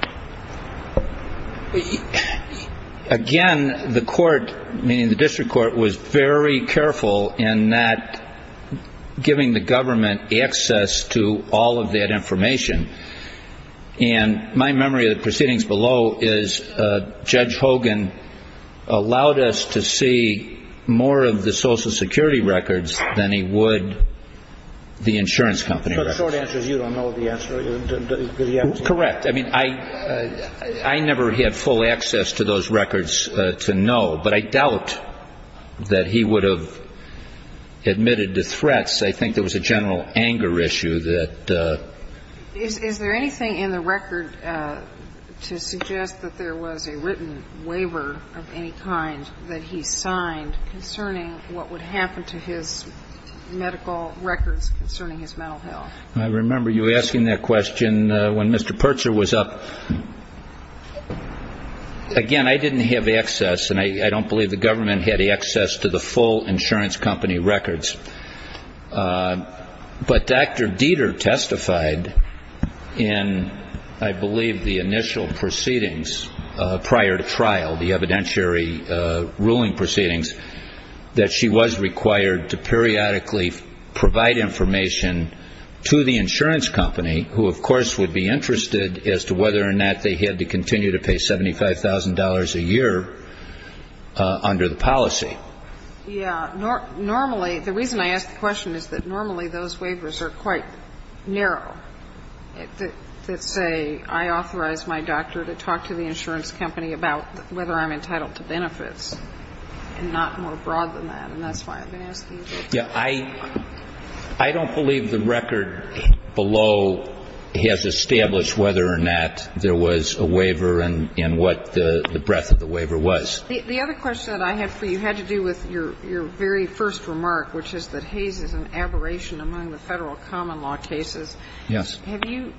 Again, the court, meaning the district court, was very careful in that giving the government access to all of that information. And my memory of the proceedings below is Judge Hogan allowed us to see more of the Social Security records than he would the insurance company records. So the short answer is you don't know the answer? Correct. I mean, I never had full access to those records to know, but I doubt that he would have admitted to threats. I think there was a general anger issue that ---- Is there anything in the record to suggest that there was a written waiver of any kind that he signed concerning what would happen to his medical records concerning his mental health? I remember you asking that question when Mr. Pertzer was up. Again, I didn't have access, and I don't believe the government had access to the full insurance company records. But Dr. Dieter testified in, I believe, the initial proceedings prior to trial, the evidentiary ruling proceedings, that she was required to periodically provide information to the insurance company, who, of course, would be interested as to whether or not they had to continue to pay $75,000 a year under the policy. Yeah. Normally, the reason I ask the question is that normally those waivers are quite narrow. Let's say I authorize my doctor to talk to the insurance company about whether I'm entitled to benefits, and not more broad than that, and that's why I've been asking. Yeah. I don't believe the record below has established whether or not there was a waiver and what the breadth of the waiver was. The other question that I have for you had to do with your very first remark, which is that Hays is an aberration among the Federal common law cases. Yes. Have you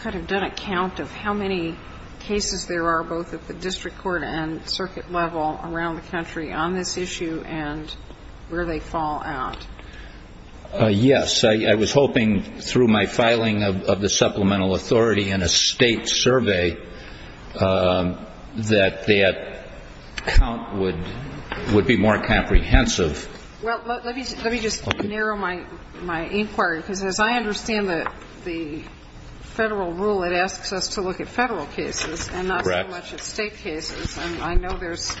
kind of done a count of how many cases there are, both at the district court and circuit level around the country, on this issue and where they fall out? Yes. I was hoping through my filing of the supplemental authority in a State survey that that count would be more comprehensive. Well, let me just narrow my inquiry, because as I understand the Federal rule, it asks us to look at Federal cases and not so much at State cases. Correct. And I know there's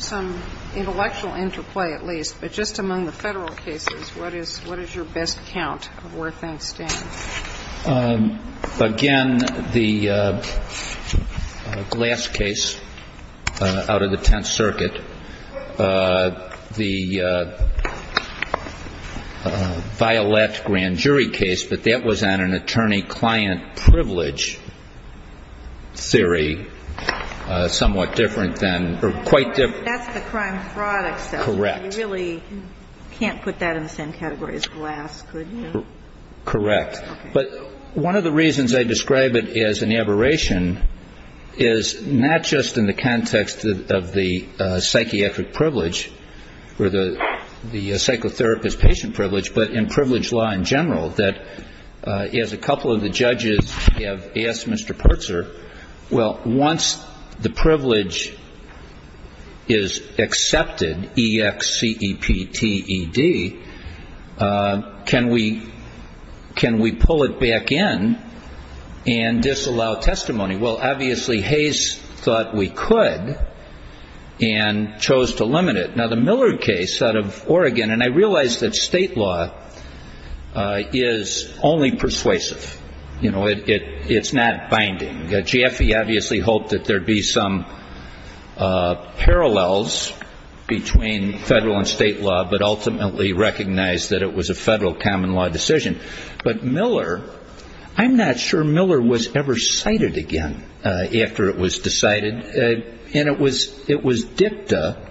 some intellectual interplay, at least. But just among the Federal cases, what is your best count of where things stand? Again, the Glass case out of the Tenth Circuit, the Violette grand jury case, but that was on an attorney-client privilege theory somewhat different than or quite different. That's the crime fraud exception. Correct. You really can't put that in the same category as Glass, could you? Correct. But one of the reasons I describe it as an aberration is not just in the context of the psychiatric privilege or the psychotherapist-patient privilege, but in privilege law in general, that as a couple of the judges have asked Mr. Pertzer, well, once the privilege is accepted, E-X-C-E-P-T-E-D, can we pull it back in and disallow testimony? Well, obviously, Hayes thought we could and chose to limit it. Now, the Millard case out of Oregon, and I realize that State law is only persuasive. It's not binding. Jaffe obviously hoped that there would be some parallels between Federal and State law, but ultimately recognized that it was a Federal common law decision. But Miller, I'm not sure Miller was ever cited again after it was decided, and it was dicta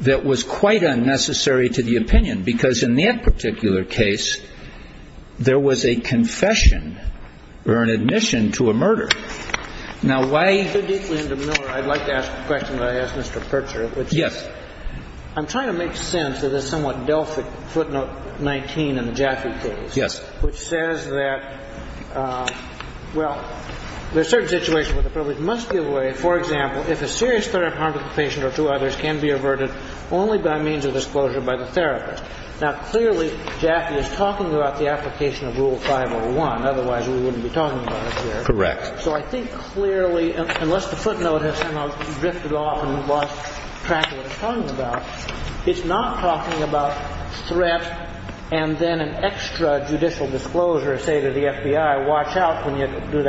that was quite unnecessary to the opinion, because in that particular case, there was a confession or an admission to a murder. Now, why — If you go deeply into Miller, I'd like to ask a question that I asked Mr. Pertzer, which is — Yes. I'm trying to make sense of this somewhat Delphic footnote 19 in the Jaffe case — Yes. — which says that, well, there's certain situations where the privilege must be avoided. For example, if a serious threat of harm to the patient or to others can be averted only by means of disclosure by the therapist. Now, clearly, Jaffe is talking about the application of Rule 501. Otherwise, we wouldn't be talking about it here. Correct. So I think clearly, unless the footnote has somehow drifted off and we've lost track of what it's talking about, it's not talking about threat and then an extra judicial disclosure, say, to the FBI, watch out when you do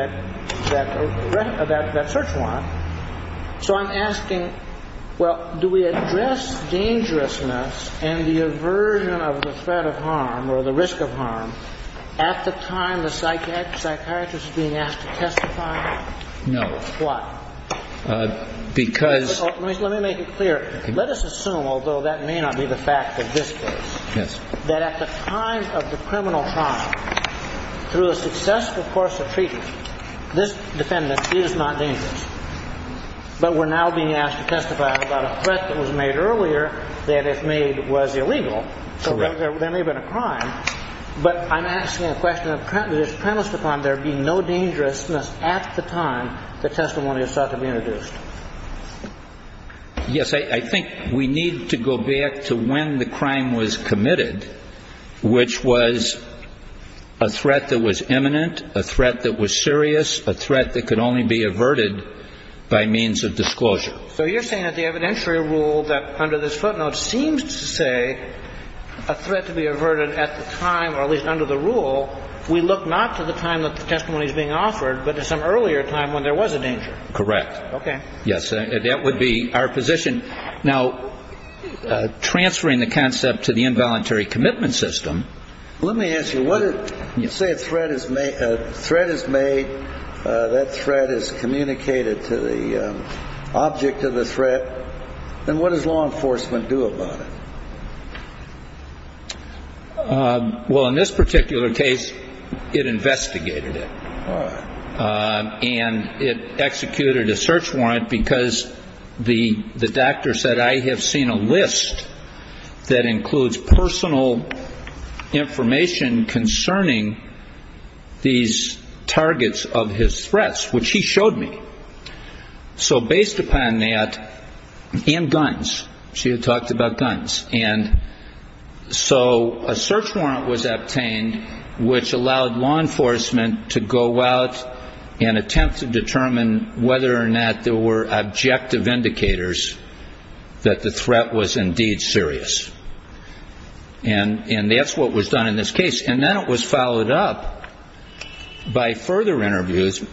that search warrant. So I'm asking, well, do we address dangerousness and the aversion of the threat of harm or the risk of harm at the time the psychiatrist is being asked to testify? No. Why? Because — Let me make it clear. Let us assume, although that may not be the fact of this case — Yes. — that at the time of the criminal trial, through a successful course of treaty, this defendant is not dangerous. But we're now being asked to testify about a threat that was made earlier that, if made, was illegal. Correct. So there may have been a crime. But I'm asking a question of, does this premise define there being no dangerousness at the time the testimony is thought to be introduced? Yes. I think we need to go back to when the crime was committed, which was a threat that was imminent, a threat that was serious, a threat that could only be averted by means of disclosure. So you're saying that the evidentiary rule that under this footnote seems to say a threat to be averted at the time, or at least under the rule, we look not to the time that the testimony is being offered, but to some earlier time when there was a danger. Correct. Okay. Yes. That would be our position. Now, transferring the concept to the involuntary commitment system — Let me ask you, let's say a threat is made, that threat is communicated to the object of the threat, then what does law enforcement do about it? Well, in this particular case, it investigated it. All right. And it executed a search warrant because the doctor said, I have seen a list that includes personal information concerning these targets of his threats, which he showed me. So based upon that, and guns, she had talked about guns. And so a search warrant was obtained, which allowed law enforcement to go out and attempt to determine whether or not there were objective indicators that the threat was indeed serious. And that's what was done in this case. And then it was followed up by further interviews,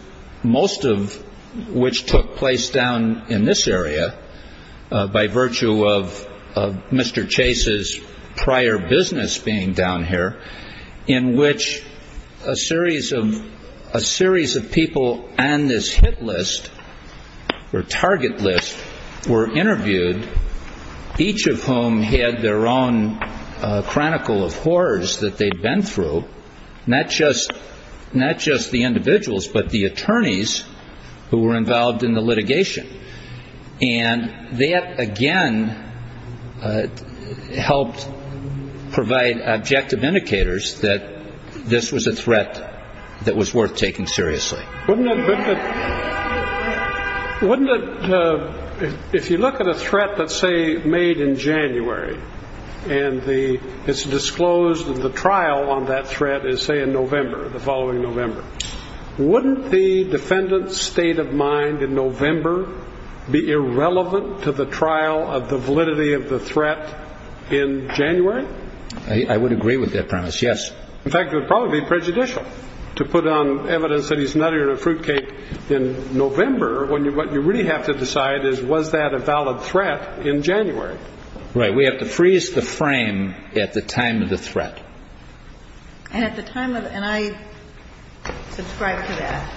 most of which took place down in this area by virtue of Mr. Chase's prior business being down here, in which a series of a series of people and this hit list or target list were interviewed, each of whom had their own chronicle of horrors that they'd been through. Not just not just the individuals, but the attorneys who were involved in the litigation. And that, again, helped provide objective indicators that this was a threat that was worth taking seriously. Wouldn't it? Wouldn't it? If you look at a threat that, say, made in January and the it's disclosed that the trial on that threat is, say, in November, the following November. Wouldn't the defendant's state of mind in November be irrelevant to the trial of the validity of the threat in January? I would agree with that premise. Yes. In fact, it would probably be prejudicial to put on evidence that he's not here to fruitcake in November when you what you really have to decide is, was that a valid threat in January? Right. We have to freeze the frame at the time of the threat. And at the time of and I subscribe to that.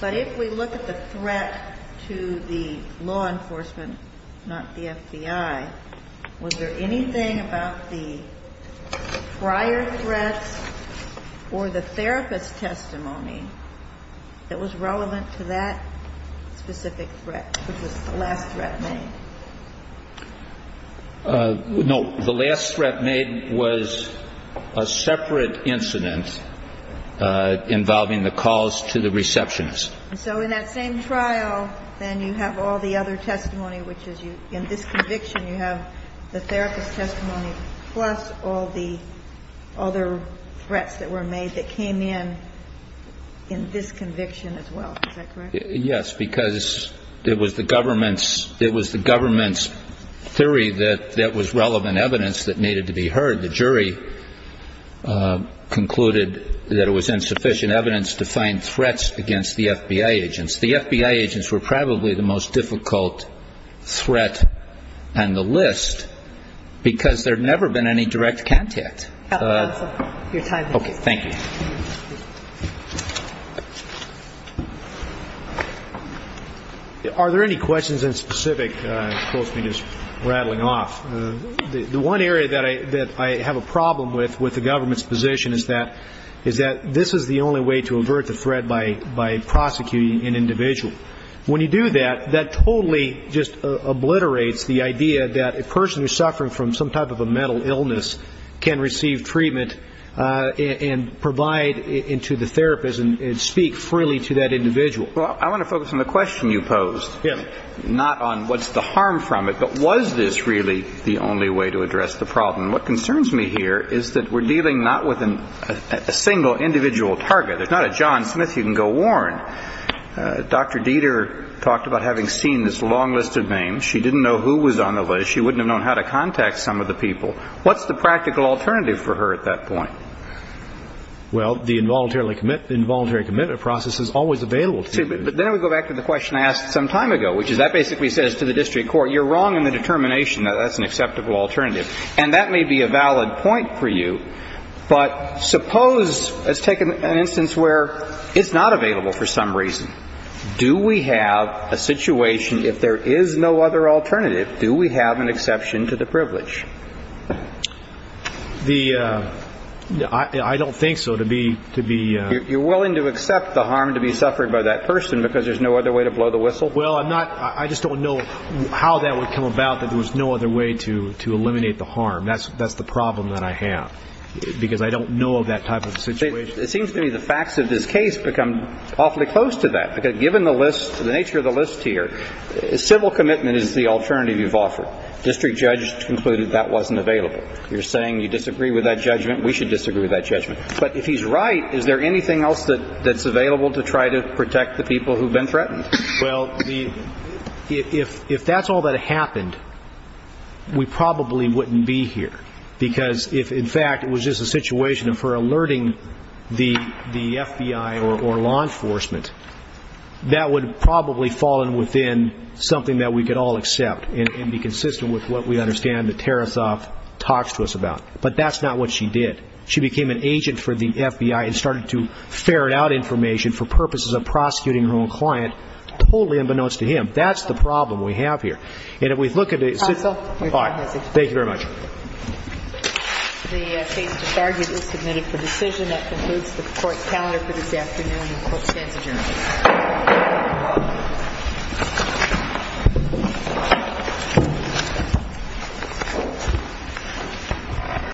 But if we look at the threat to the law enforcement, not the FBI, was there anything about the prior threats or the therapist's testimony that was relevant to that specific threat? No. The last threat made was a separate incident involving the calls to the receptionist. So in that same trial, then you have all the other testimony, which is you in this conviction, you have the therapist's testimony plus all the other threats that were made that came in in this conviction as well. Yes, because it was the government's it was the government's theory that that was relevant evidence that needed to be heard. The jury concluded that it was insufficient evidence to find threats against the FBI agents. The FBI agents were probably the most difficult threat on the list because there had never been any direct contact. OK, thank you. Are there any questions in specific? Rattling off the one area that I that I have a problem with with the government's position is that is that this is the only way to avert the threat by by prosecuting an individual. When you do that, that totally just obliterates the idea that a person who's suffering from some type of a mental illness can receive treatment and provide into the therapist and speak freely to that individual. Well, I want to focus on the question you posed, not on what's the harm from it. But was this really the only way to address the problem? What concerns me here is that we're dealing not with a single individual target. It's not a John Smith you can go Warren. Dr. Dieter talked about having seen this long list of names. She didn't know who was on the list. She wouldn't have known how to contact some of the people. What's the practical alternative for her at that point? Well, the involuntary commit involuntary commitment process is always available. But then we go back to the question I asked some time ago, which is that basically says to the district court, you're wrong in the determination that that's an acceptable alternative. And that may be a valid point for you. But suppose let's take an instance where it's not available for some reason. Do we have a situation if there is no other alternative? Do we have an exception to the privilege? The I don't think so. To be to be you're willing to accept the harm to be suffered by that person because there's no other way to blow the whistle. Well, I'm not I just don't know how that would come about that. There was no other way to to eliminate the harm. That's that's the problem that I have, because I don't know of that type of situation. It seems to me the facts of this case become awfully close to that. Given the list, the nature of the list here, civil commitment is the alternative you've offered. District judges concluded that wasn't available. You're saying you disagree with that judgment. We should disagree with that judgment. But if he's right, is there anything else that that's available to try to protect the people who've been threatened? Well, if if that's all that happened, we probably wouldn't be here because if in fact it was just a situation for alerting the the FBI or law enforcement, that would probably fall in within something that we could all accept and be consistent with what we understand the Tarasoff talks to us about. But that's not what she did. She became an agent for the FBI and started to ferret out information for purposes of prosecuting her own client, totally unbeknownst to him. That's the problem we have here. And if we look at it. Thank you very much. The case disargued is submitted for decision. That concludes the court calendar for this afternoon. Court is adjourned.